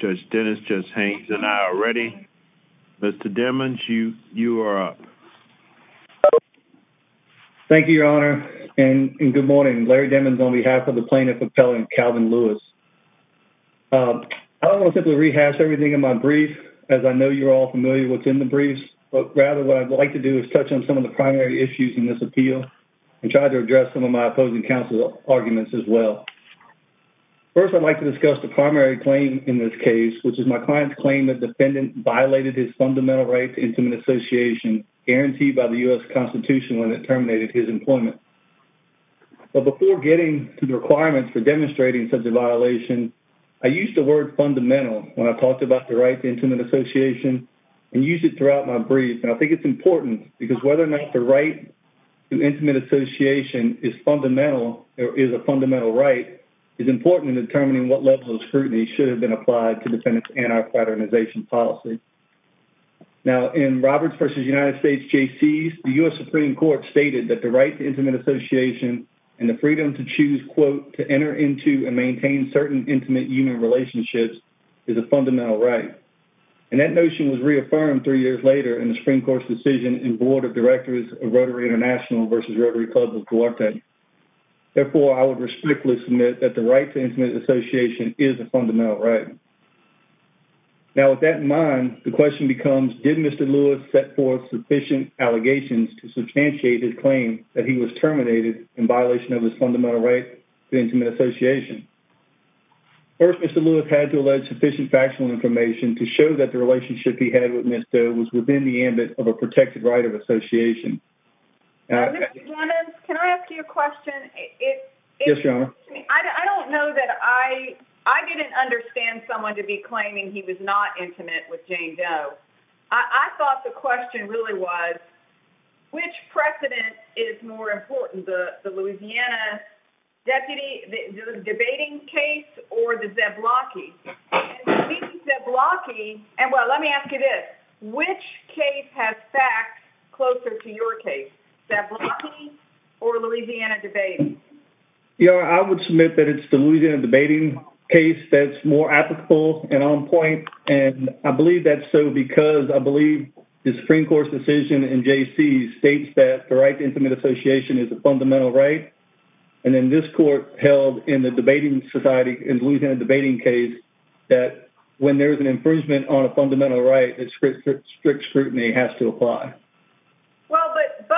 Judge Dennis, Judge Haines, and I are ready. Mr. Demmons, you are up. Thank you, Your Honor, and good morning. Larry Demmons on behalf of the Plaintiff Appellant Calvin Lewis. I don't want to simply rehash everything in my brief, as I know you're all familiar with what's in the briefs, but rather what I'd like to do is touch on some of the primary issues in this appeal and try to address some of my opposing counsel arguments as well. First, I'd like to discuss the primary claim in this case, which is my client's claim that the defendant violated his fundamental right to intimate association guaranteed by the U.S. Constitution when it terminated his employment. But before getting to the requirements for demonstrating such a violation, I used the word fundamental when I talked about the right to intimate association and used it throughout my brief, and I think it's important because whether or not the right to intimate association is fundamental or is a fundamental right is important in determining what levels of scrutiny should have been applied to defendant's anti-paternization policy. Now, in Roberts v. United States J.C.'s, the U.S. Supreme Court stated that the right to intimate association and the freedom to choose, quote, to enter into and maintain certain intimate human relationships is a fundamental right, and that notion was reaffirmed three years later in the Supreme Court's decision in Board of Directors of Rotary International v. Rotary Club of Duarte. Therefore, I would strictly submit that the right to intimate association is a fundamental right. Now, with that in mind, the question becomes, did Mr. Lewis set forth sufficient allegations to substantiate his claim that he was terminated in violation of his fundamental right to intimate association? First, Mr. Lewis had to allege sufficient factional information to show that the relationship he had with Ms. Doe was within the ambit of a protected right of I don't know that I didn't understand someone to be claiming he was not intimate with Jane Doe. I thought the question really was, which precedent is more important, the Louisiana deputy debating case or the Zablocki? And let me ask you this, which case has facts closer to your case, Zablocki or the Louisiana debate? Yeah, I would submit that it's the Louisiana debating case that's more applicable and on point, and I believe that's so because I believe the Supreme Court's decision in J.C. states that the right to intimate association is a fundamental right, and then this court held in the debating society in the Louisiana debating case that when there is an infringement on a fundamental right, that strict scrutiny has to apply. Well, but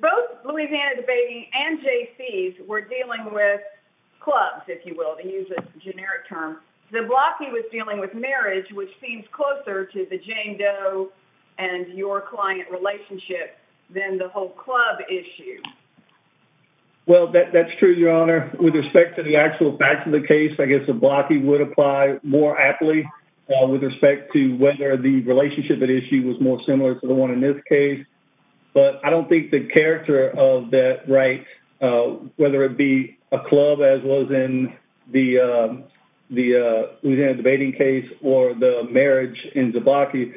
both Louisiana debating and J.C.'s were dealing with clubs, if you will, to use a generic term. Zablocki was dealing with marriage, which seems closer to the Jane Doe and your client relationship than the whole club issue. Well, that's true, Your Honor. With respect to the actual facts of the case, I guess Zablocki would apply more aptly with respect to whether the case, but I don't think the character of that right, whether it be a club as well as in the Louisiana debating case or the marriage in Zablocki,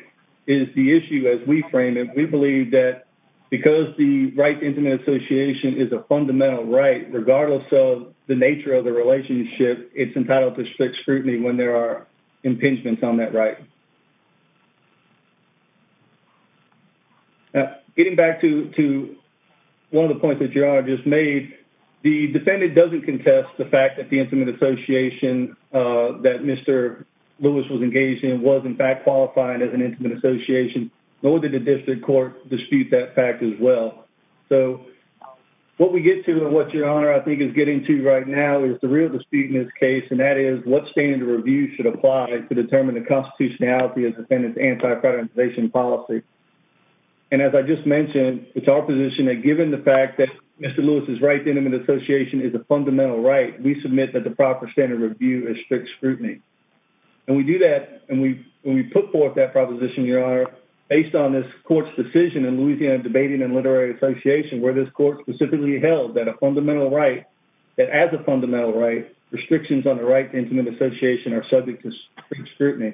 is the issue as we frame it. We believe that because the right to intimate association is a fundamental right, regardless of the nature of the relationship, it's entitled to strict scrutiny when there are impingements on that right. Now, getting back to one of the points that Your Honor just made, the defendant doesn't contest the fact that the intimate association that Mr. Lewis was engaged in was in fact qualifying as an intimate association, nor did the district court dispute that fact as well. So what we get to and what Your Honor I think is getting to right now is the real dispute in this case, and that is what standard of review should apply to determine the constitutionality of and as I just mentioned, it's our position that given the fact that Mr. Lewis is right, intimate association is a fundamental right. We submit that the proper standard review is strict scrutiny, and we do that, and we put forth that proposition, Your Honor, based on this court's decision in Louisiana Debating and Literary Association, where this court specifically held that a fundamental right, that as a fundamental right, restrictions on the right to intimate association are subject to strict scrutiny.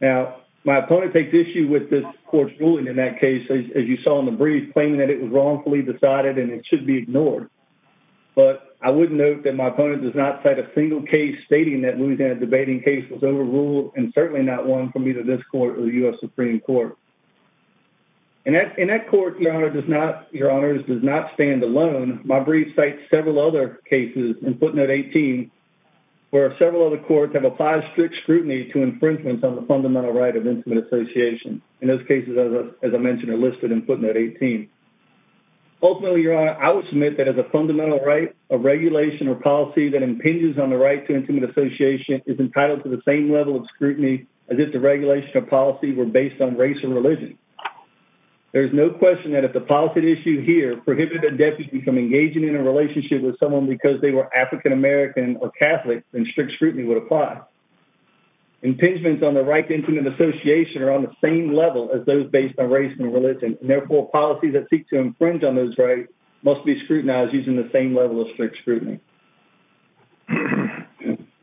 Now, my opponent takes issue with this court's ruling in that case, as you saw in the brief, claiming that it was wrongfully decided and it should be ignored, but I would note that my opponent does not cite a single case stating that Louisiana Debating case was overruled, and certainly not one from either this court or the U.S. Supreme Court. In that court, Your Honors, does not stand alone. My brief cites several other cases in footnote 18, where several other courts have applied strict to infringements on the fundamental right of intimate association. In those cases, as I mentioned, are listed in footnote 18. Ultimately, Your Honor, I would submit that as a fundamental right, a regulation or policy that impinges on the right to intimate association is entitled to the same level of scrutiny as if the regulation or policy were based on race or religion. There is no question that if the policy at issue here prohibited a deputy from engaging in a relationship with someone because they were African American or Catholic, then impingements on the right to intimate association are on the same level as those based on race and religion. Therefore, policies that seek to infringe on those rights must be scrutinized using the same level of strict scrutiny.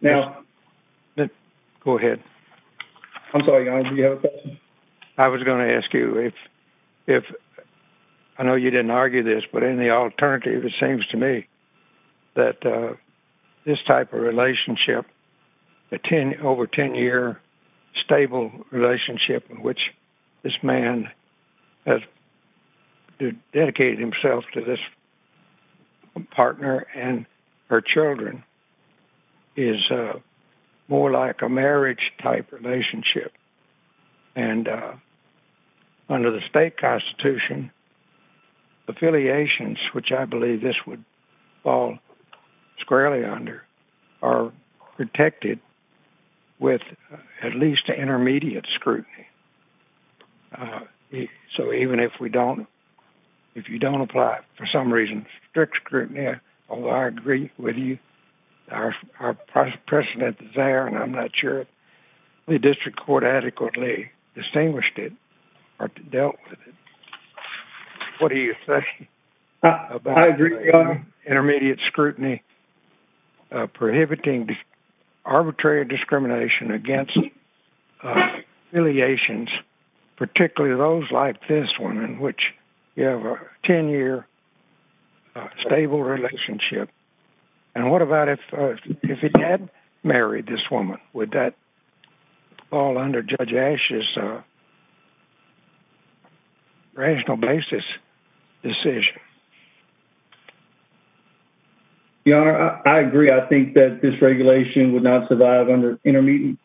Now... Go ahead. I'm sorry, Your Honor, do you have a question? I was going to ask you if... I know you didn't argue this, but in the alternative, it seems to me that this type of relationship, a 10...over 10-year stable relationship in which this man has dedicated himself to this partner and her children, is more like a marriage-type relationship. And under the state constitution, affiliations, which I believe this would fall squarely under, are protected with at least intermediate scrutiny. So even if we don't...if you don't apply, for some reason, strict scrutiny, although I agree with you, our precedent is there, and I'm not sure if the district court adequately distinguished it or dealt with it. What do you say about intermediate scrutiny prohibiting arbitrary discrimination against affiliations, particularly those like this one in which you have a 10-year stable relationship? And what about if he had married this woman? Would that fall under Judge Ashe's rational basis decision? Your Honor, I agree. I think that this regulation would not survive under intermediate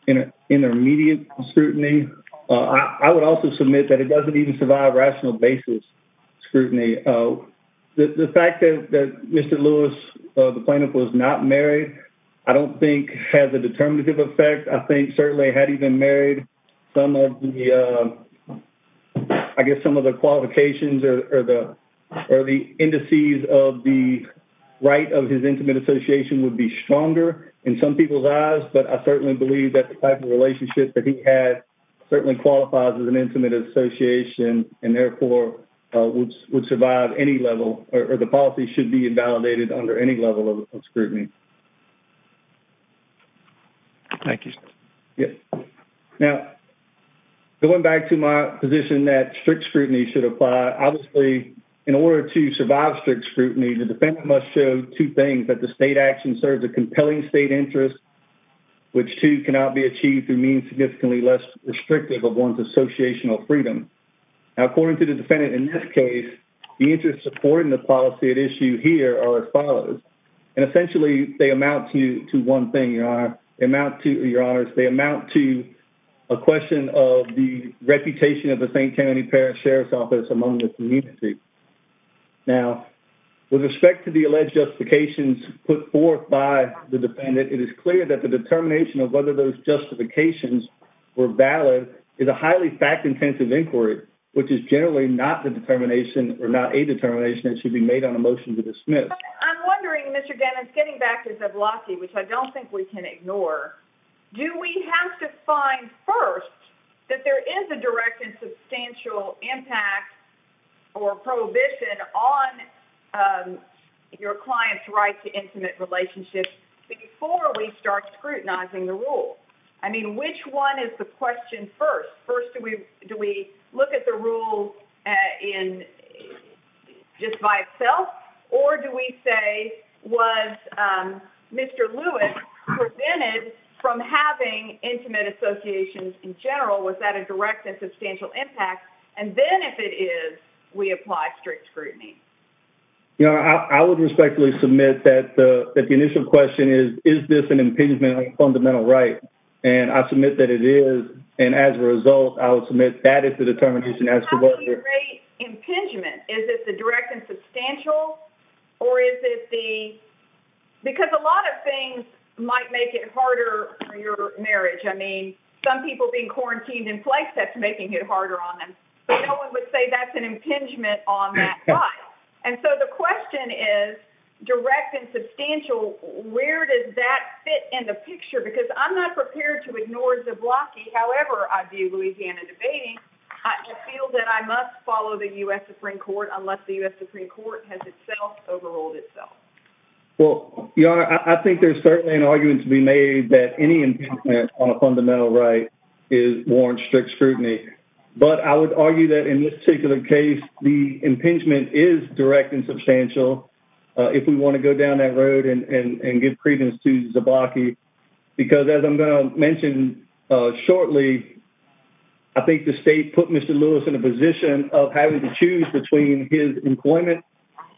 scrutiny. I would also submit that it doesn't even survive rational basis scrutiny. The fact that Mr. Lewis, the plaintiff, was not married, I don't think has a determinative effect. I think certainly had he been married, some of the...I guess some of the qualifications or the indices of the right of his intimate association would be stronger in some people's eyes, but I certainly believe that the type of relationship that he had certainly qualifies as an intimate association and therefore would survive any level, or the policy should be invalidated under any level of scrutiny. Thank you, sir. Yes. Now, going back to my position that strict scrutiny should apply, obviously, in order to survive strict scrutiny, the defendant must show two things, that the state action serves a compelling state interest, which, too, cannot be achieved through means significantly less restrictive of one's associational freedom. Now, according to the defendant in this case, the interests supporting the policy at issue here are as follows. And essentially, they amount to one thing, Your Honor. They amount to, Your Honors, they amount to a question of the reputation of the St. Kennedy Parish Sheriff's Office among the community. Now, with respect to the alleged justifications put forth by the defendant, it is clear that the determination of whether those justifications were valid is a highly fact-intensive inquiry, which is generally not the determination or not a determination that should be made on a motion to dismiss. I'm wondering, Mr. Dennis, getting back to Zavlocki, which I don't think we can ignore, do we have to find first that there is a direct and substantial impact or prohibition on your client's right to intimate relationships before we start scrutinizing the rule? I mean, which one is the question first? First, do we look at the rule just by itself? Or do we say, was Mr. Lewis prevented from having intimate associations in general? Was that a direct and substantial impact? And then, if it is, we apply strict scrutiny. Your Honor, I would respectfully submit that the initial question is, is this an and as a result, I would submit that is the determination. How do you rate impingement? Is it the direct and substantial? Or is it the… Because a lot of things might make it harder for your marriage. I mean, some people being quarantined in place, that's making it harder on them. But no one would say that's an impingement on that right. And so the question is, direct and substantial, where does that fit in the picture? Because I'm not prepared to ignore Zablocki, however I view Louisiana debating. I feel that I must follow the U.S. Supreme Court unless the U.S. Supreme Court has itself overruled itself. Well, Your Honor, I think there's certainly an argument to be made that any impingement on a fundamental right is warranted strict scrutiny. But I would argue that in this particular case, the impingement is direct and substantial. If we want to go down that road and give credence to Zablocki, because as I'm going to mention shortly, I think the state put Mr. Lewis in a position of having to choose between his employment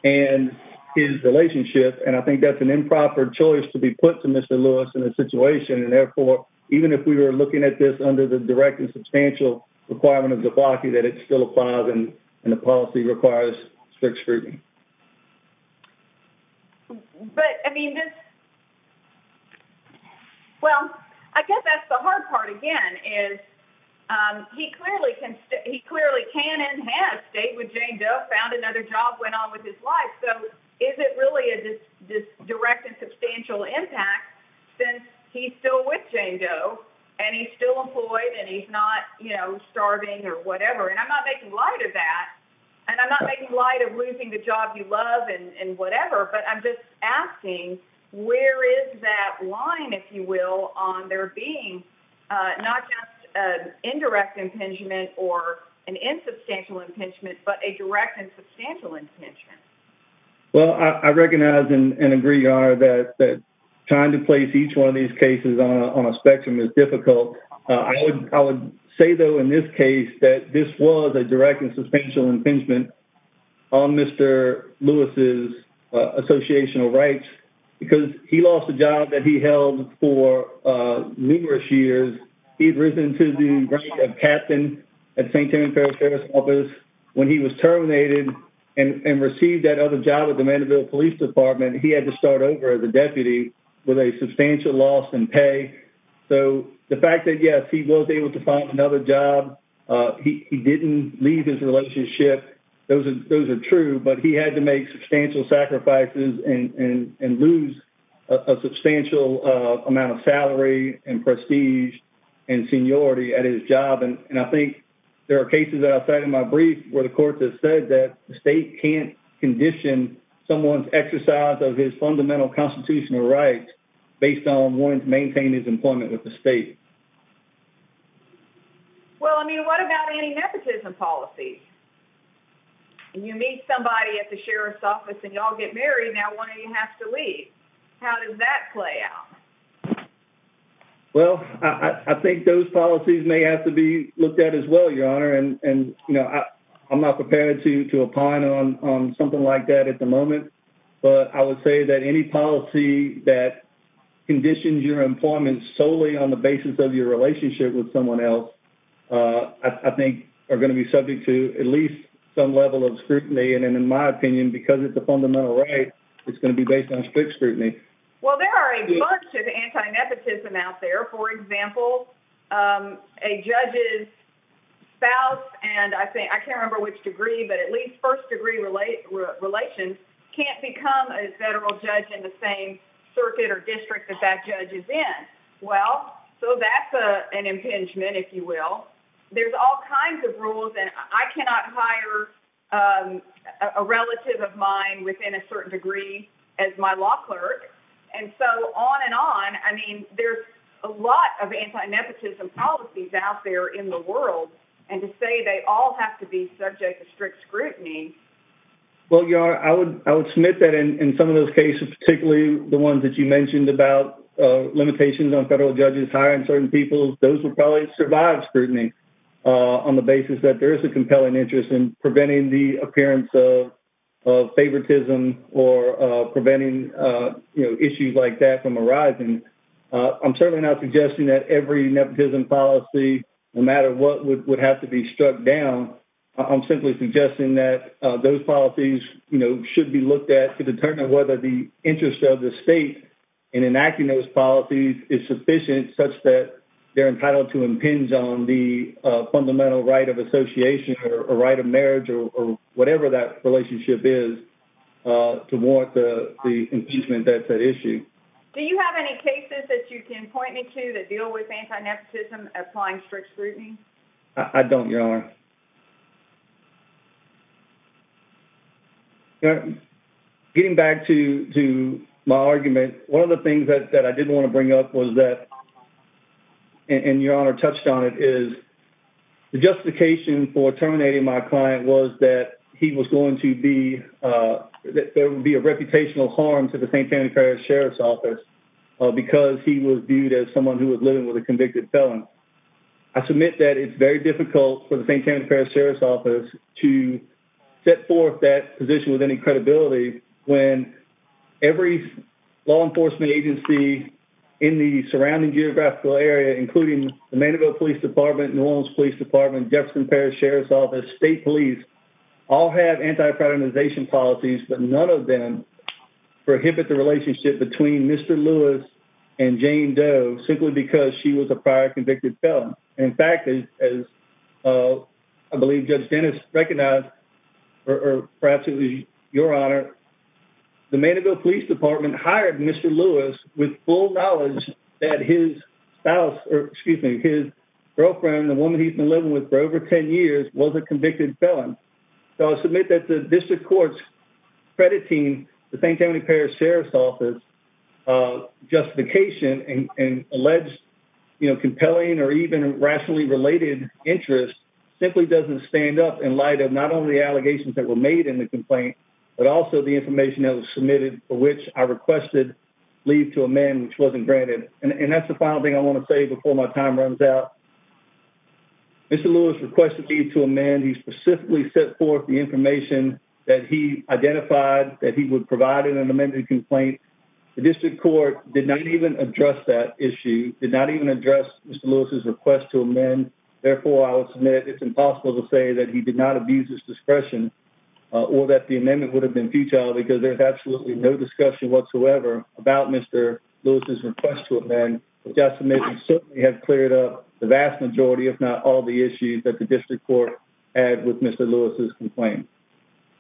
and his relationship. And I think that's an improper choice to be put to Mr. Lewis in a situation. And therefore, even if we were looking at this under the direct and substantial requirement of Zablocki, that it still applies and the policy requires strict scrutiny. But, I mean, well, I guess that's the hard part again, is he clearly can and has stayed with Jane Doe, found another job, went on with his life. So is it really a direct and substantial impact since he's still with Jane Doe and he's still employed and he's not, you know, the job you love and whatever. But I'm just asking, where is that line, if you will, on there being not just an indirect impingement or an insubstantial impingement, but a direct and substantial impingement? Well, I recognize and agree, Your Honor, that trying to place each one of these cases on a spectrum is difficult. I would say, though, in this case, that this was a Lewis' associational rights, because he lost a job that he held for numerous years. He'd risen to the rank of captain at St. Timothy Parish Sheriff's Office. When he was terminated and received that other job at the Mandeville Police Department, he had to start over as a deputy with a substantial loss in pay. So the fact that, yes, he was able to find another job, he didn't leave his relationship, those are true. But he had to make substantial sacrifices and lose a substantial amount of salary and prestige and seniority at his job. And I think there are cases that I'll cite in my brief where the court has said that the state can't condition someone's exercise of his fundamental constitutional rights based on wanting to What about any nepotism policies? You meet somebody at the Sheriff's Office and y'all get married, now one of you has to leave. How does that play out? Well, I think those policies may have to be looked at as well, Your Honor. And I'm not prepared to opine on something like that at the moment. But I would say that any policy that conditions your employment solely on the basis of your relationship with someone else I think are going to be subject to at least some level of scrutiny. And in my opinion, because it's a fundamental right, it's going to be based on strict scrutiny. Well, there are a bunch of antinepotism out there. For example, a judge's spouse, and I can't remember which degree, but at least first degree relations, can't become a federal judge in the same circuit or district that that judge is in. Well, so that's an impingement, if you will. There's all kinds of rules, and I cannot hire a relative of mine within a certain degree as my law clerk. And so on and on, I mean, there's a lot of antinepotism policies out there in the world. And to say they all have to be subject to strict scrutiny. Well, Your Honor, I would submit that in some of those cases, particularly the ones that you provide scrutiny on the basis that there is a compelling interest in preventing the appearance of favoritism or preventing, you know, issues like that from arising. I'm certainly not suggesting that every nepotism policy, no matter what would have to be struck down, I'm simply suggesting that those policies, you know, should be looked at to determine whether the interest of the state in enacting those policies is sufficient such that they're entitled to impinge on the fundamental right of association or right of marriage or whatever that relationship is to warrant the impeachment that's at issue. Do you have any cases that you can point me to that deal with antinepotism applying strict scrutiny? I don't, Your Honor. You know, getting back to my argument, one of the things that I did want to bring up was that, and Your Honor touched on it, is the justification for terminating my client was that he was going to be, that there would be a reputational harm to the St. Anthony Parish Sheriff's Office because he was viewed as someone who was living with a convicted felon. I submit that it's very difficult for the St. Anthony Parish Sheriff's Office to set forth that position with any credibility when every law enforcement agency in the surrounding geographical area, including the Manitoba Police Department, New Orleans Police Department, Jefferson Parish Sheriff's Office, State Police, all have anti-patronization policies, but none of them prohibit the relationship between Mr. Lewis and Jane Doe simply because she was a convicted felon. In fact, as I believe Judge Dennis recognized, or perhaps it was Your Honor, the Manitoba Police Department hired Mr. Lewis with full knowledge that his spouse, or excuse me, his girlfriend, the woman he's been living with for over 10 years, was a convicted felon. So I submit that the district court's crediting the St. Anthony rationally related interest simply doesn't stand up in light of not only the allegations that were made in the complaint, but also the information that was submitted for which I requested leave to amend, which wasn't granted. And that's the final thing I want to say before my time runs out. Mr. Lewis requested leave to amend. He specifically set forth the information that he identified that he would provide in an amended complaint. The district court did not even address that issue, did not even address Mr. Lewis's request to amend. Therefore, I will submit it's impossible to say that he did not abuse his discretion or that the amendment would have been futile because there's absolutely no discussion whatsoever about Mr. Lewis's request to amend, which I submit would certainly have cleared up the vast majority, if not all, the issues that the district court had with Mr. Lewis's complaint.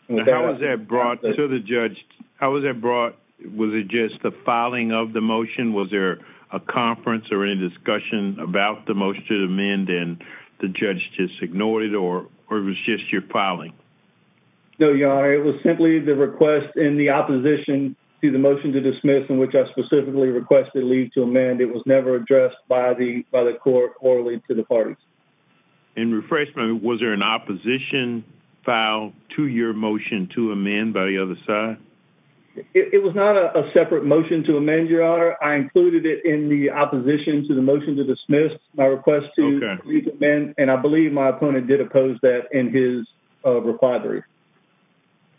How was that brought to the judge? How was that brought? Was it just the filing of the motion? Was there a conference or any discussion about the motion to amend and the judge just ignored it or it was just your filing? No, Your Honor. It was simply the request in the opposition to the motion to dismiss in which I specifically requested leave to amend. It was never addressed by the court or to the parties. In refreshment, was there an opposition file to your motion to amend by the other side? It was not a separate motion to amend, Your Honor. I included it in the opposition to the motion to dismiss my request to leave to amend and I believe my opponent did oppose that in his requirements.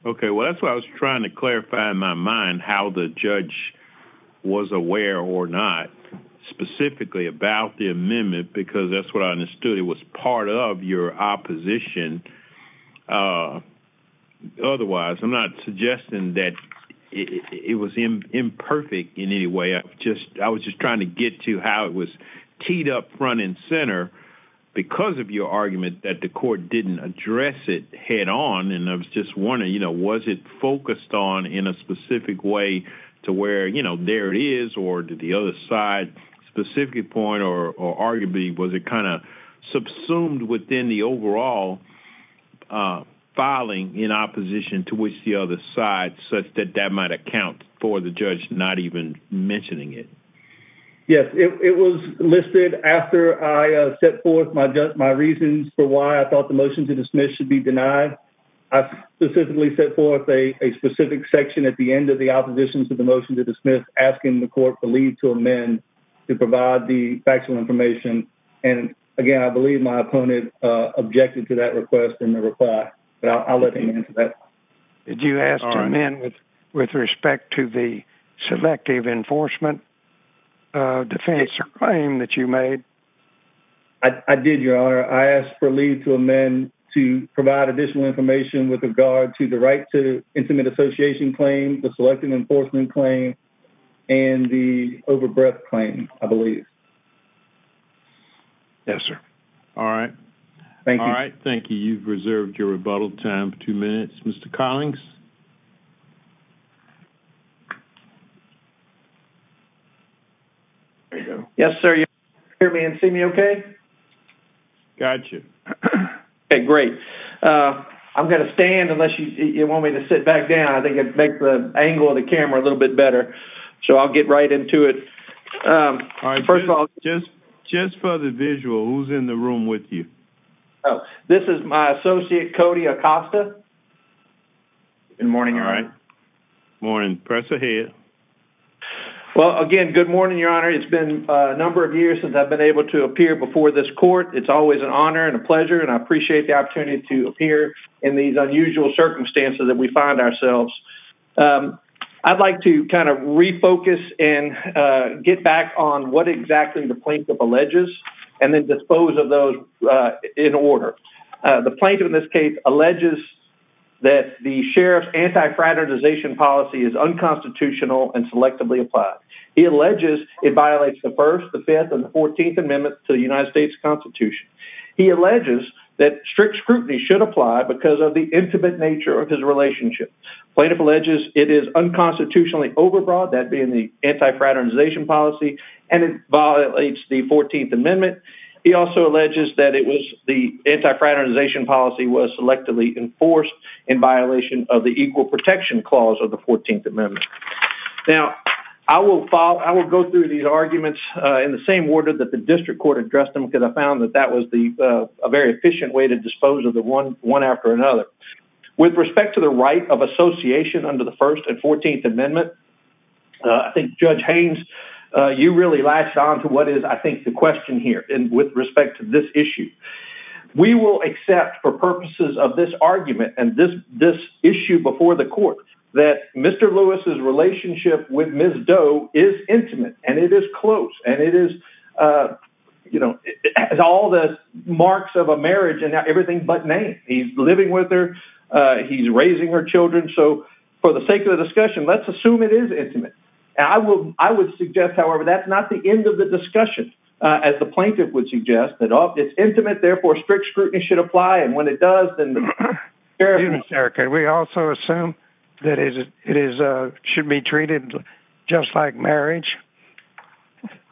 Okay, well that's why I was trying to clarify in my mind how the judge was aware or not specifically about the amendment because that's what I understood. It was part of your opposition. Otherwise, I'm not suggesting that it was imperfect in any way. I was just trying to get to how it was teed up front and center because of your argument that the court didn't address it head on and I was just wondering, you know, was it focused on in a specific way to where, you know, there it is or did the other side specifically point or arguably was it kind of subsumed within the overall filing in opposition to which the other side such that that might account for the judge not even mentioning it? Yes, it was listed after I set forth my reasons for why I thought the motion to dismiss should be denied. I specifically set forth a specific section at the end of the opposition to the motion to dismiss asking the court to leave to amend to provide the factual information and again I believe my opponent objected to that request in the reply but I'll let him answer that. Did you ask to amend with respect to the selective enforcement defense claim that you made? I did, your honor. I asked for leave to amend to provide additional information with regard to the right to intimate association claim, the selective enforcement claim, and the overbreath claim, I believe. Yes, sir. All right. Thank you. All right. Thank you. You've reserved your rebuttal time for two minutes. Mr. Collings? Yes, sir. You hear me and see me okay? Got you. Okay, great. I'm going to stand unless you want me to sit back down. I think it'd make the angle of the camera a little bit better so I'll get right into it. First of all, just for the visual, who's in the room with you? This is my associate, Cody Acosta. Good morning, your honor. Good morning. Press ahead. Well, again, good morning, your honor. It's been a court. It's always an honor and a pleasure and I appreciate the opportunity to appear in these unusual circumstances that we find ourselves. I'd like to kind of refocus and get back on what exactly the plaintiff alleges and then dispose of those in order. The plaintiff, in this case, alleges that the sheriff's anti-fraternization policy is unconstitutional and selectively applied. He alleges it violates the First, the Fifth, and the Fourteenth Amendment to the United States Constitution. He alleges that strict scrutiny should apply because of the intimate nature of his relationship. Plaintiff alleges it is unconstitutionally overbroad, that being the anti-fraternization policy, and it violates the Fourteenth Amendment. He also alleges that it was the anti-fraternization policy was selectively enforced in violation of the Equal Protection Clause of the Fourteenth Amendment. Now, I will follow, I will go through these arguments in the same order that the district court addressed them because I found that that was a very efficient way to dispose of them one after another. With respect to the right of association under the First and Fourteenth Amendment, I think Judge Haynes, you really latched on to what is, I think, the question here with respect to this issue. We will accept for purposes of this argument and this issue before the court that Mr. Lewis's relationship with Ms. Erika is intimate, and it is close, and it is, you know, all the marks of a marriage and everything but name. He's living with her. He's raising her children. So for the sake of the discussion, let's assume it is intimate. I would suggest, however, that's not the end of the discussion, as the plaintiff would suggest, that it's intimate, therefore strict scrutiny should apply, and when it does, then the paraphernalia...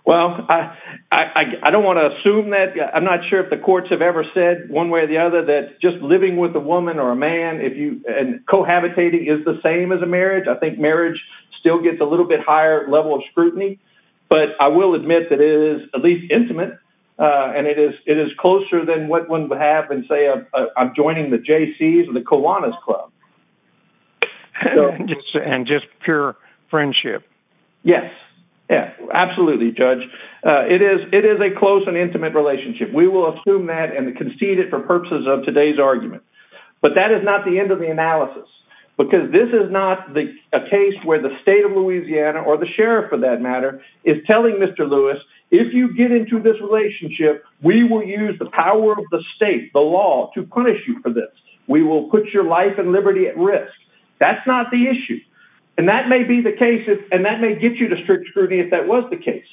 Well, I don't want to assume that. I'm not sure if the courts have ever said one way or the other that just living with a woman or a man, and cohabitating is the same as a marriage. I think marriage still gets a little bit higher level of scrutiny, but I will admit that it is at least intimate, and it is closer than what one would have and say, I'm joining the Jaycees or the Absolutely, Judge. It is a close and intimate relationship. We will assume that and concede it for purposes of today's argument. But that is not the end of the analysis, because this is not a case where the state of Louisiana, or the sheriff for that matter, is telling Mr. Lewis, if you get into this relationship, we will use the power of the state, the law, to punish you for this. We will put your life and liberty at risk. That's not the issue. And that may be the case, and that may get you to strict scrutiny if that was the case,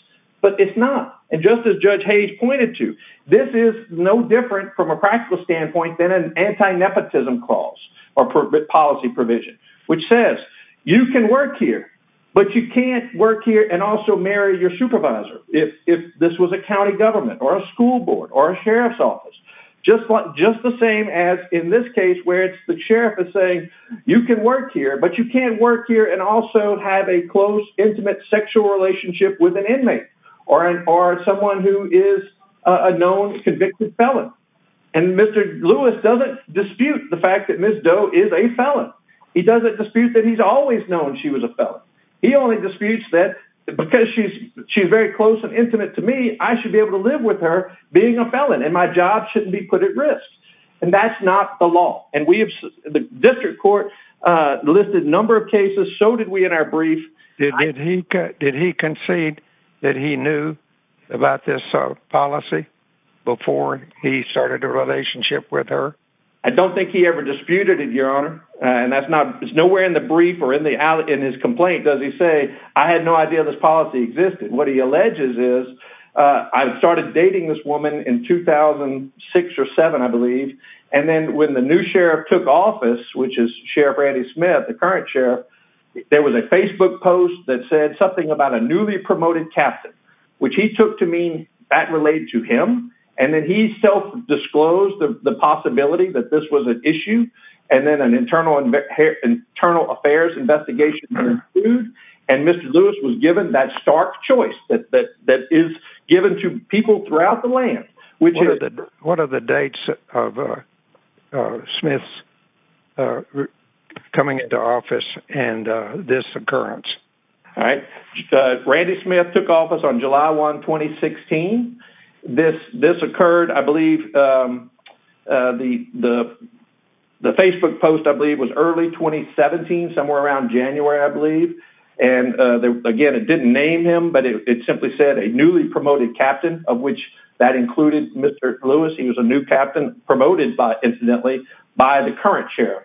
but it's not. And just as Judge Hayes pointed to, this is no different from a practical standpoint than an anti-nepotism clause, or policy provision, which says, you can work here, but you can't work here and also marry your supervisor, if this was a county government, or a school board, or a sheriff's office. Just the same as in this case, where it's the sheriff is saying, you can work here, but you can't work here and also have a close, intimate, sexual relationship with an inmate, or someone who is a known convicted felon. And Mr. Lewis doesn't dispute the fact that Ms. Doe is a felon. He doesn't dispute that he's always known she was a felon. He only disputes that, because she's very close and intimate to me, I should be able to live with her being a felon, and my job shouldn't be put at risk. And that's not the law. The district court listed a number of cases, so did we in our brief. Did he concede that he knew about this policy before he started a relationship with her? I don't think he ever disputed it, Your Honor. It's nowhere in the brief or in his complaint does he say, I had no idea this policy existed. What he alleges is, I started dating this woman in 2006 or 7, I believe. And then when the new sheriff took office, which is Sheriff Randy Smith, the current sheriff, there was a Facebook post that said something about a newly promoted captain, which he took to mean that related to him. And then he self-disclosed the possibility that this was an issue. And then an internal affairs investigation was concluded, and Mr. People throughout the land. What are the dates of Smith's coming into office and this occurrence? All right. Randy Smith took office on July 1, 2016. This occurred, I believe, the Facebook post, I believe, was early 2017, somewhere around January, I believe. And again, it didn't name him, but it simply said a newly promoted captain of which that included Mr. Lewis. He was a new captain promoted incidentally by the current sheriff.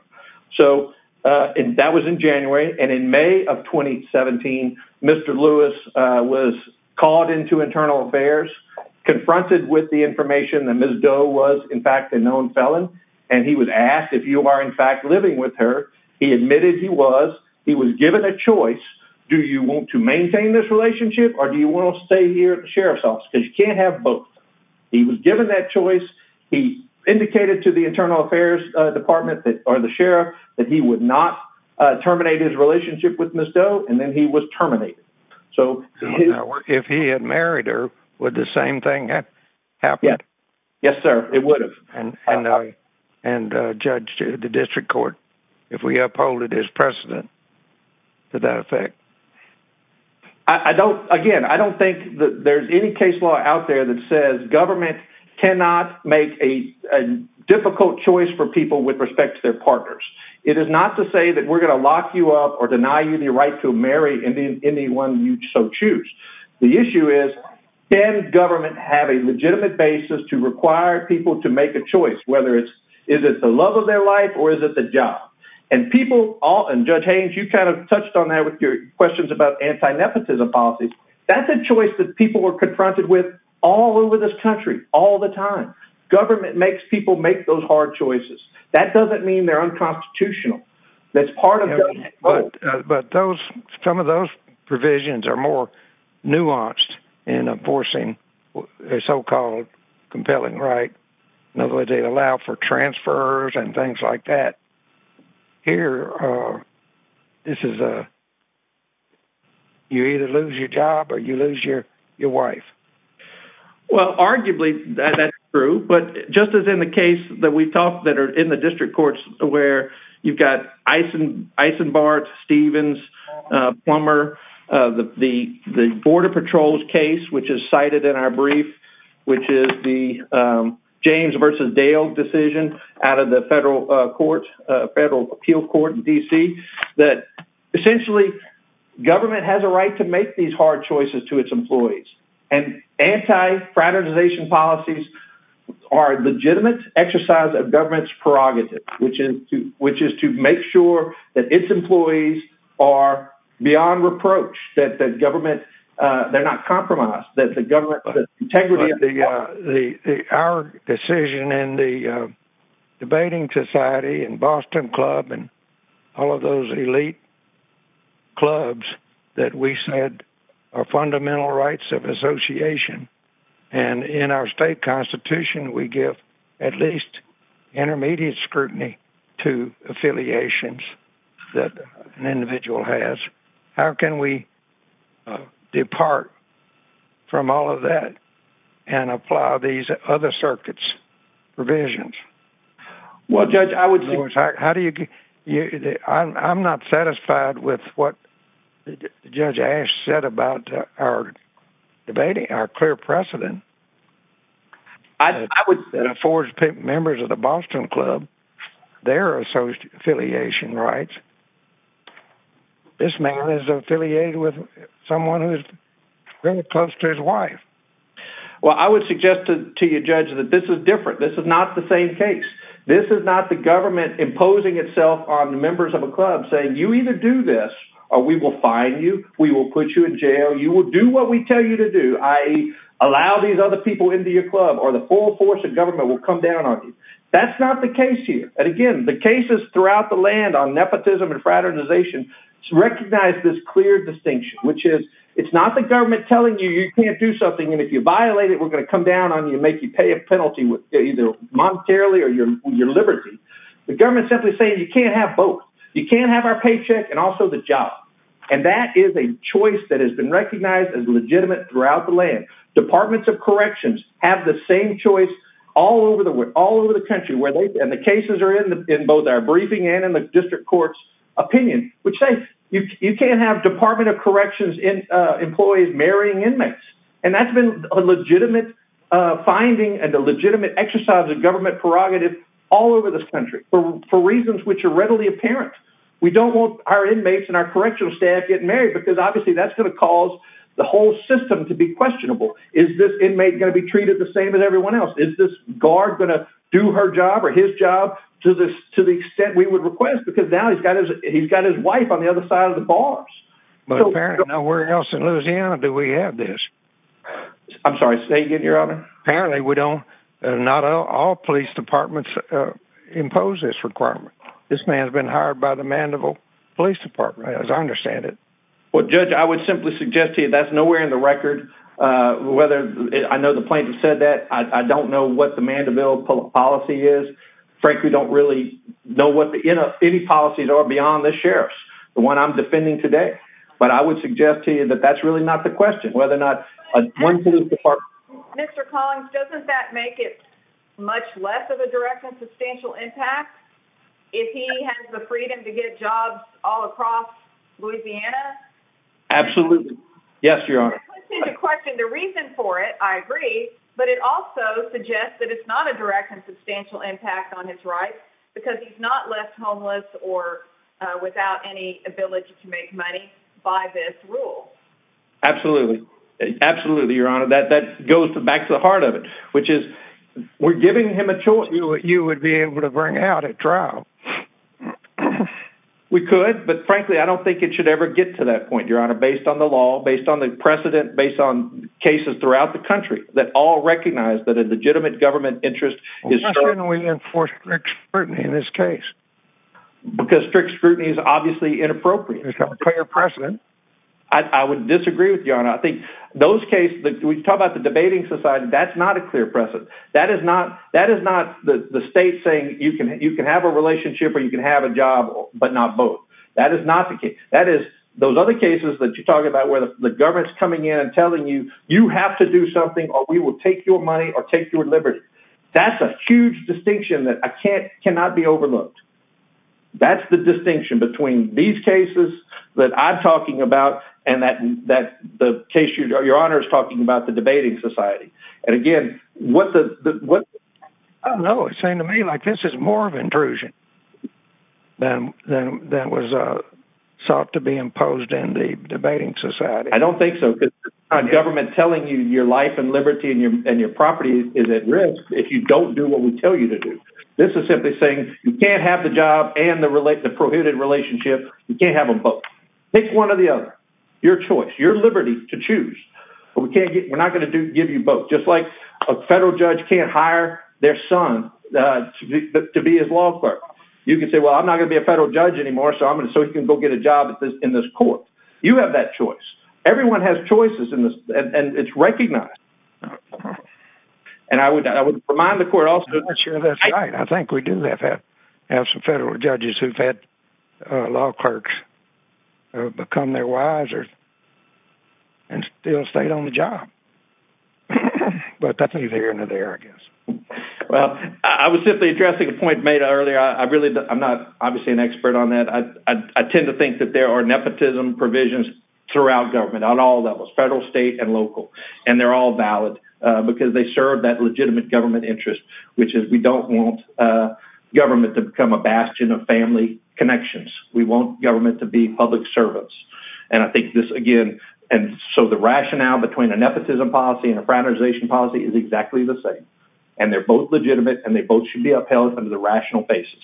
So that was in January. And in May of 2017, Mr. Lewis was called into internal affairs, confronted with the information that Ms. Doe was in fact a known felon. And he was asked if you are in fact living with her. He admitted he was. He was given a choice. Do you want to maintain this relationship or do you want to stay here at the sheriff's office? Because you can't have both. He was given that choice. He indicated to the internal affairs department or the sheriff that he would not terminate his relationship with Ms. Doe. And then he was terminated. So if he had married her, would the same thing happen? Yes, sir. It would have. And judge the district court, if we uphold it as precedent to that effect. Again, I don't think that there's any case law out there that says government cannot make a difficult choice for people with respect to their partners. It is not to say that we're going to lock you up or deny you the right to marry anyone you so choose. The issue is, can government have a legitimate basis to require people to make a choice, whether it's is it the love of their life or is it the job? And people all and judge Haynes, you kind of touched on that with your questions about anti nepotism policies. That's a choice that people are confronted with all over this country all the time. Government makes people make those hard choices. That doesn't mean they're unconstitutional. That's part of. But those some of those provisions are more nuanced in enforcing their so-called compelling right. No, they allow for transfers and things like that here. This is a. You either lose your job or you lose your your wife. Well, arguably, that's true. But just as in the case that we talked that are in the district courts where you've got Eisen Eisenbarth, Stevens, Plummer, the the Border Patrol's case, which is cited in our brief, which is the James versus Dale decision out of the federal court, federal appeal court in D.C. that essentially government has a right to make these hard choices to its employees. And anti fraternization policies are legitimate exercise of government's prerogatives, which is to which is to make sure that its employees are beyond reproach, that the government they're not compromised, that the government integrity of the the our decision and the debating society and Boston Club and all of those elite. Clubs that we said are fundamental rights of association and in our state constitution, we give at least intermediate scrutiny to affiliations that an individual has. How can we depart from all of that and apply these other circuits provisions? Well, judge, I would. How do you. I'm not satisfied with what Judge Ash said about our debating our clear precedent. I would say the four members of the Boston Club, their association rights. This man is affiliated with someone who's very close to his wife. Well, I would suggest to you, Judge, that this is different. This is not the same case. This is not the government imposing itself on the members of a club saying you either do this or we will find you. We will put you in jail. You will do what we tell you to do. I allow these other people into your club or the full force of government will come down on you. That's not the case here. And again, the cases throughout the land on nepotism and fraternization recognize this clear distinction, which is it's not the government telling you you can't do something. And if you violate it, we're going to come down on you, make you pay a penalty with either monetarily or your liberty. The government simply say you can't have both. You can't have our paycheck and also the job. And that is a choice that has been recognized as legitimate throughout the land. Departments of Corrections have the same choice all over the world, all over the country where they and the cases are in both our briefing and in the district court's opinion, which say you can't have Department of Corrections employees marrying inmates. And that's been a legitimate finding and a legitimate exercise of government prerogative all over this country for reasons which are readily apparent. We don't want our inmates and our correctional staff getting married because obviously that's going to cause the whole system to be questionable. Is this inmate going to be treated the same as everyone else? Is this guard going to do her job or his job to this to the extent we would request? Because now he's got his he's got his wife on the other side of the bars. But apparently nowhere else in Louisiana do we have this. I'm sorry, say again, your honor. Apparently we don't. Not all police departments impose this requirement. This man has been hired by the Mandeville Police Department, as I understand it. Well, Judge, I would simply suggest to you that's nowhere in the record, whether I know the plaintiff said that I don't know what the Mandeville policy is. Frankly, don't really know what any policies are beyond the sheriff's, the one I'm defending today. But I would suggest to you that that's really not the question, whether or not Mr. Collins, doesn't that make it much less of a direct and substantial impact if he has the freedom to get jobs all across Louisiana? Absolutely. Yes, your honor. It's a question. The reason for it, I agree. But it also suggests that it's not a direct and substantial impact on his rights because he's not left homeless or without any ability to make money by this rule. Absolutely. Absolutely. Your honor, that that goes back to the heart of it, which is we're giving him a choice. You would be able to bring out at trial. We could, but frankly, I don't think it should ever get to that point, your honor, based on the law, based on the precedent, based on cases throughout the country that all recognize that a legitimate government interest is certainly enforced in this case. Because strict scrutiny is obviously inappropriate. It's got a clear precedent. I would disagree with your honor. I think those cases that we talk about the debating society, that's not a clear precedent. That is not that is not the state saying you can you can have a relationship or you can have a job, but not both. That is not the case. That is those other cases that you talk about where the government's coming in and telling you, you have to do something or we will take your money or take your liberty. That's a huge distinction that I can't cannot be overlooked. That's the distinction between these cases that I'm talking about and that that the case, your honor, is talking about the debating society. And again, what the what? I don't know. It seemed to me like this is more of intrusion than that was sought to be imposed in the debating society. I don't think so, because government telling you your life and liberty and your property is at risk if you don't do what we tell you to do. This is simply saying you can't have the job and the related prohibited relationship. You can't have them both. Pick one or the other. Your choice, your liberty to choose. But we can't get we're not going to give you both. Just like a federal judge can't hire their son to be his law clerk. You can say, well, I'm not going to be a federal judge anymore. So I'm going to so you can go get a job in this court. You have that choice. Everyone has choices in this. And it's recognized. And I would I would remind the court also that's right. I think we do have some federal judges who've had law clerks become their wiser. And they don't stay on the job. But that's either here or there, I guess. Well, I was simply addressing a point made earlier. I really I'm not obviously an expert on that. I tend to think that there are nepotism provisions throughout government on all levels, federal, state and local. And they're all valid because they serve that legitimate government interest, which is we don't want government to become a bastion of family connections. We want government to be public service. And I think this again. And so the rationale between a nepotism policy and a fraternization policy is exactly the same. And they're both legitimate and they both should be upheld under the rational basis.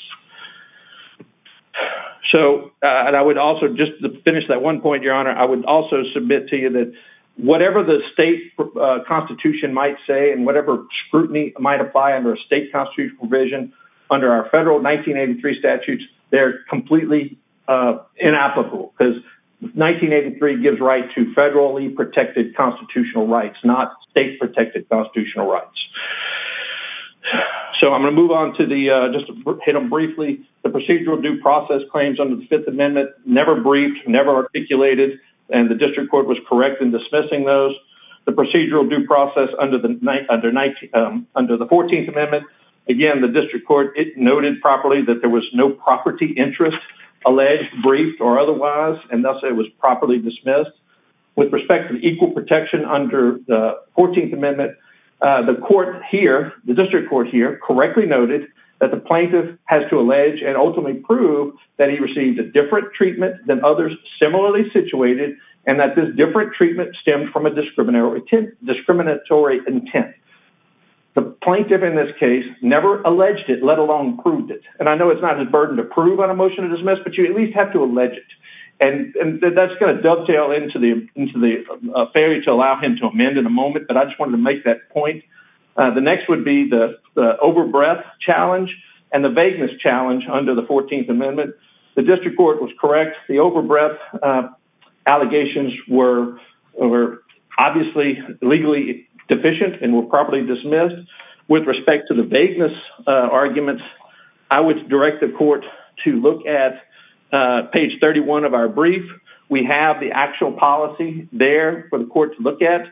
So and I would also just finish that one point, Your Honor. I would also submit to you that whatever the state constitution might say and whatever scrutiny might apply under a state constitutional provision under our federal 1983 statutes, they're completely inapplicable. Because 1983 gives right to federally protected constitutional rights, not state protected constitutional rights. So I'm going to move on to the just hit them briefly. The procedural due process claims under the Fifth Amendment never briefed, never articulated, and the district court was correct in dismissing those. The procedural due process under the 14th Amendment. Again, the district court noted properly that there was no property interest alleged, briefed or otherwise, and thus it was properly dismissed. With respect to equal protection under the 14th Amendment, the court here, the district court here, correctly noted that the plaintiff has to allege and ultimately prove that he received a different treatment than others similarly situated and that this different treatment stemmed from a discriminatory intent. The plaintiff in this case never alleged it, let alone proved it. And I know it's not a burden to prove on a motion to dismiss, but you at least have to and that's going to dovetail into the affair to allow him to amend in a moment, but I just wanted to make that point. The next would be the over breadth challenge and the vagueness challenge under the 14th Amendment. The district court was correct. The over breadth allegations were obviously legally deficient and were properly dismissed. With respect to the vagueness arguments, I would direct the court to look at page 31 of our brief. We have the actual policy there for the court to look at,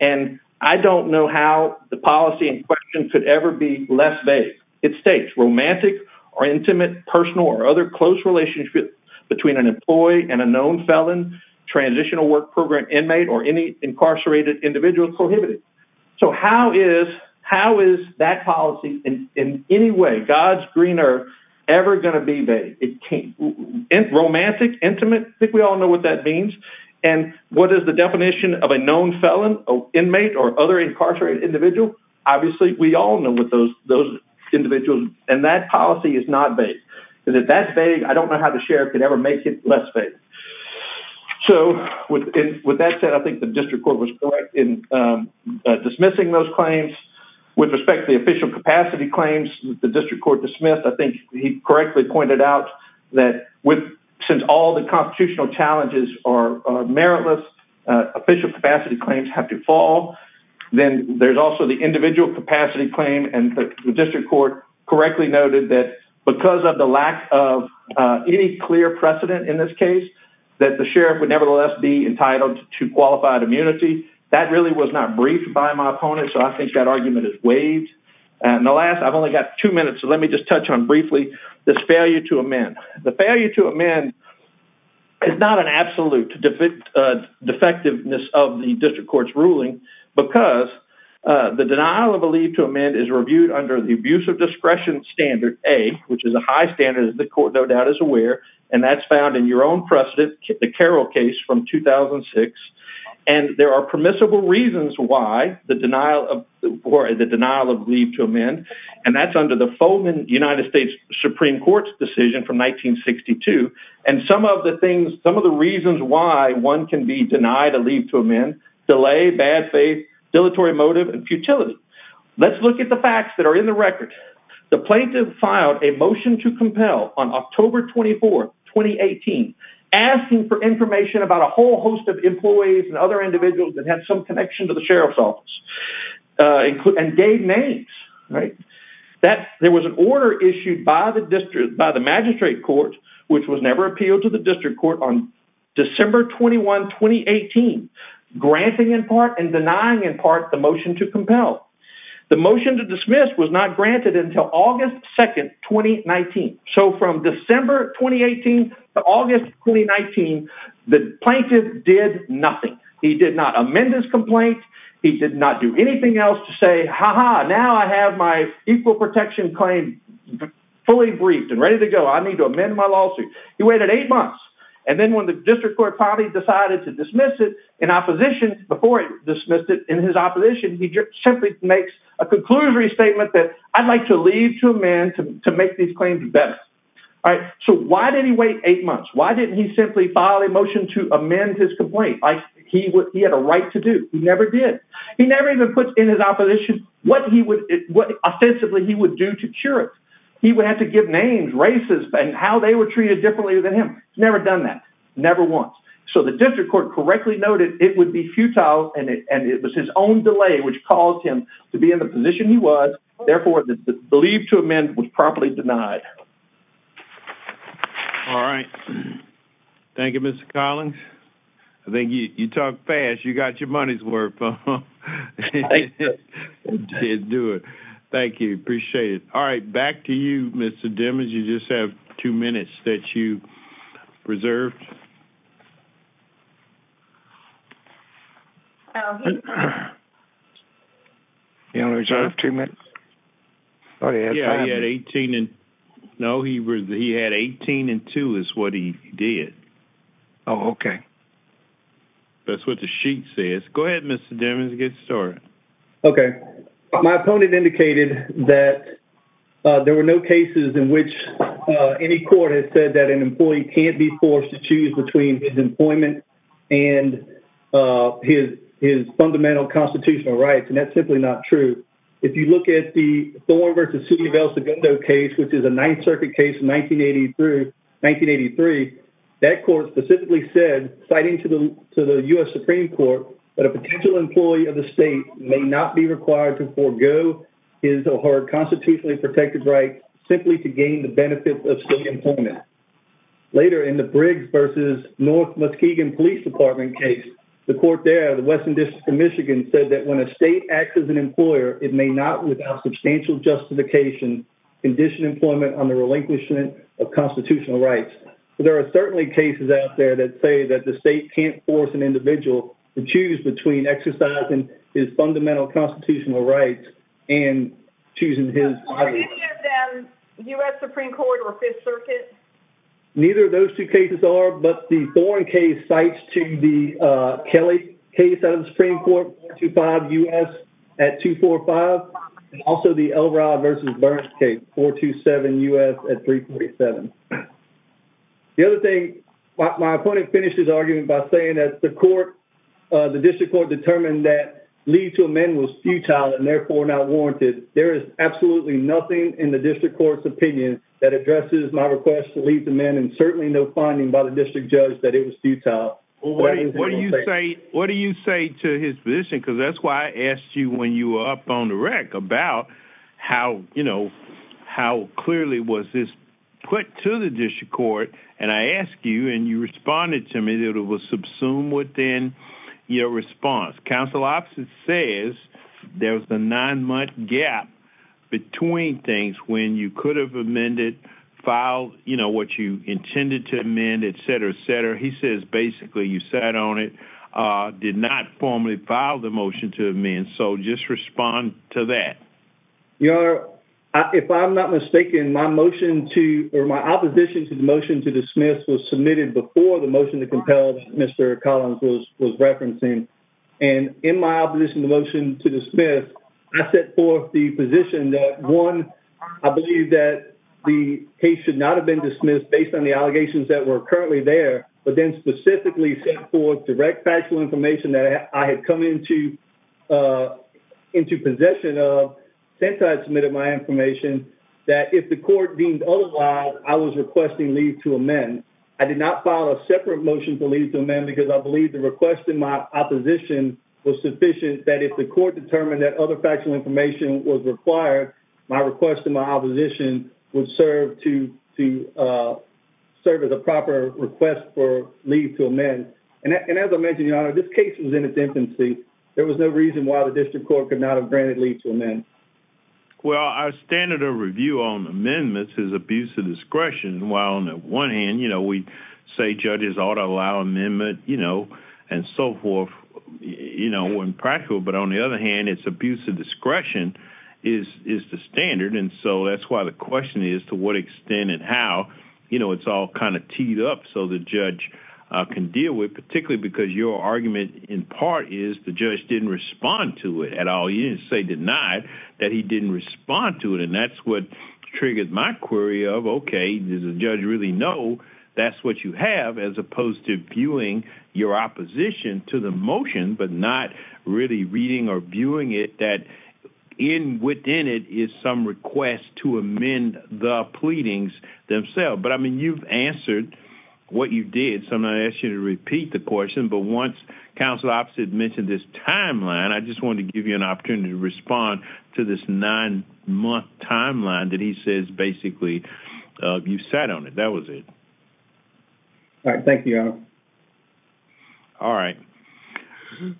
and I don't know how the policy in question could ever be less vague. It states, romantic or intimate, personal or other close relationship between an employee and a known felon, transitional work program inmate or any incarcerated individual prohibited. So how is that policy in any way, God's greener, ever going to be vague? Romantic, intimate, I think we all know what that means. And what is the definition of a known felon, inmate or other incarcerated individual? Obviously, we all know what those individuals, and that policy is not vague. And if that's vague, I don't know how the sheriff could ever make it less vague. So with that said, I think the district court was correct in dismissing those claims. With respect to the official capacity claims, the district court dismissed. I think he correctly pointed out that since all the constitutional challenges are meritless, official capacity claims have to fall. Then there's also the individual capacity claim. And the district court correctly noted that because of the lack of any clear precedent in this case, that the sheriff would nevertheless be entitled to qualified immunity. That really was not briefed by my opponent. So I think that argument is waived. And the last, I've only got two minutes. So let me just touch on briefly, this failure to amend. The failure to amend is not an absolute defectiveness of the district court's ruling, because the denial of a leave to amend is reviewed under the abuse of discretion standard A, which is a high standard that the court no doubt is aware. And that's found in your own precedent, the Carroll case from 2006. And there are permissible reasons why the denial of leave to amend. And that's under the Foleman United States Supreme Court's decision from 1962. And some of the things, some of the reasons why one can be denied a leave to amend, delay, bad faith, dilatory motive, and futility. Let's look at the facts that are in the record. The plaintiff filed a motion to compel on October 24, 2018, asking for information about a whole host of employees and other individuals that had some connection to the sheriff's office and gave names, right? There was an order issued by the magistrate court, which was never appealed to the district court on December 21, 2018, granting in part and denying in part the motion to compel. The motion to dismiss was not granted until August 2, 2019. So from December 2018 to August 2019, the plaintiff did nothing. He did not amend his complaint. He did not do anything else to say, ha-ha, now I have my equal protection claim fully briefed and ready to go. I need to amend my lawsuit. He waited eight months. And then when the district court finally decided to dismiss it in opposition, before he dismissed it in his opposition, he simply makes a conclusory statement that I'd like to leave to a man to make these claims better, all right? So why did he wait eight months? Why didn't he simply file a motion to amend his complaint? He had a right to do. He never did. He never even put in his opposition what ostensibly he would do to cure it. He would have to give names, races, and how they were treated differently than him. He's never done that. Never once. So the district court correctly noted it would be futile. And it was his own delay which caused him to be in the position he was. Therefore, the leave to amend was properly denied. All right. Thank you, Mr. Collins. I think you talk fast. You got your money's worth, huh? I did. You did do it. Thank you. Appreciate it. All right. Back to you, Mr. Demings. You just have two minutes that you reserved. He only reserved two minutes? Yeah, he had 18 and 2 is what he did. Oh, okay. That's what the sheet says. Go ahead, Mr. Demings. Get started. Okay. My opponent indicated that there were no cases in which any court has said that an employee can't be forced to choose between his employment and his fundamental constitutional rights. And that's simply not true. If you look at the Thorne v. City of El Segundo case, which is a Ninth Circuit case in 1983, that court specifically said, citing to the U.S. Supreme Court, that a potential employee of the state may not be required to forgo his or her constitutionally protected right simply to gain the benefits of city employment. Later, in the Briggs v. North Muskegon Police Department case, the court there, the Western District of Michigan, said that when a state acts as an employer, it may not, without substantial justification, condition employment under relinquishment of constitutional rights. So there are certainly cases out there that say that the state can't force an individual to choose between exercising his fundamental constitutional rights and choosing his. Are any of them U.S. Supreme Court or Fifth Circuit? Neither of those two cases are, but the Thorne case cites to the Kelly case out of the Supreme Court, 425 U.S. at 245, and also the Elrod v. Burns case, 427 U.S. at 347. The other thing, my opponent finished his argument by saying that the court, the district court, determined that leave to amend was futile and therefore not warranted. There is absolutely nothing in the district court's opinion that addresses my request to leave to amend and certainly no finding by the district judge that it was futile. What do you say to his position? Because that's why I asked you when you were up on the rec about how, you know, how clearly was this put to the district court? And I asked you and you responded to me that it was subsumed within your response. Council officer says there was a nine-month gap between things when you could have amended, filed, you know, what you intended to amend, et cetera, et cetera. He says basically you sat on it, did not formally file the motion to amend. So just respond to that. Your Honor, if I'm not mistaken, my motion to, or my opposition to the motion to dismiss was submitted before the motion to compel Mr. Collins was referencing. And in my opposition to the motion to dismiss, I set forth the position that, one, I believe that the case should not have been dismissed based on the allegations that were currently there, but then specifically set forth direct factual information that I had come into possession of since I had submitted my information that if the court deemed otherwise, I was requesting leave to amend. I did not file a separate motion for leave to amend because I believe the request in my opposition was sufficient that if the court determined that other factual information was required, my request to my opposition would serve to serve as a proper request for leave to amend. And as I mentioned, Your Honor, this case was in its infancy. There was no reason why the district court could not have granted leave to amend. Well, our standard of review on amendments is abuse of discretion. While on the one hand, you know, we say judges ought to allow amendment, you know, and so forth, you know, when practical. But on the other hand, it's abuse of discretion is the standard. And so that's why the question is to what extent and how, you know, it's all kind of teed up so the judge can deal with, particularly because your argument in part is the judge didn't respond to it at all. You didn't say denied that he didn't respond to it. And that's what triggered my query of, OK, does the judge really know that's what you have as opposed to viewing your opposition to the motion, but not really reading or viewing it that in within it is some request to amend the pleadings themselves. But I mean, you've answered what you did. So I'm going to ask you to repeat the question. But once counsel opposite mentioned this timeline, I just want to give you an opportunity to respond to this nine month timeline that he says, basically, you sat on it. That was it. All right. Thank you. All right.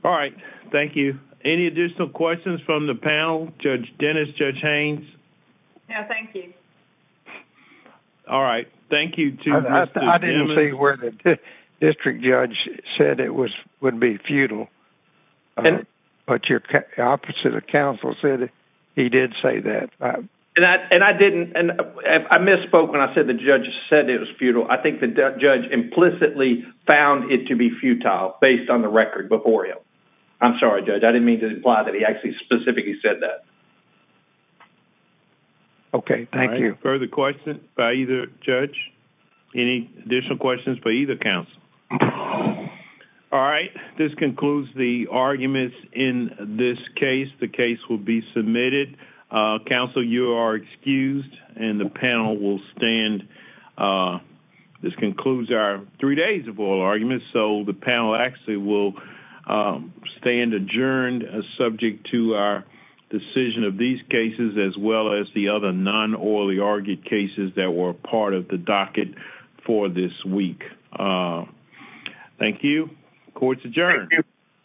All right. Thank you. Any additional questions from the panel? Judge Dennis, Judge Haynes? No, thank you. All right. Thank you. I didn't see where the district judge said it would be futile. But your opposite of counsel said he did say that. And I didn't. And I misspoke when I said the judge said it was futile. I think the judge implicitly found it to be futile based on the record before him. I'm sorry, Judge. I didn't mean to imply that he actually specifically said that. OK. Thank you. Further questions by either judge? Any additional questions by either counsel? All right. This concludes the arguments in this case. The case will be submitted. Counsel, you are excused. And the panel will stand. This concludes our three days of oral arguments. So the panel actually will stand adjourned subject to our decision of these cases, as well as the other non-orally argued cases that were part of the docket for this week. Thank you. Court's adjourned. Thank you. Thank you.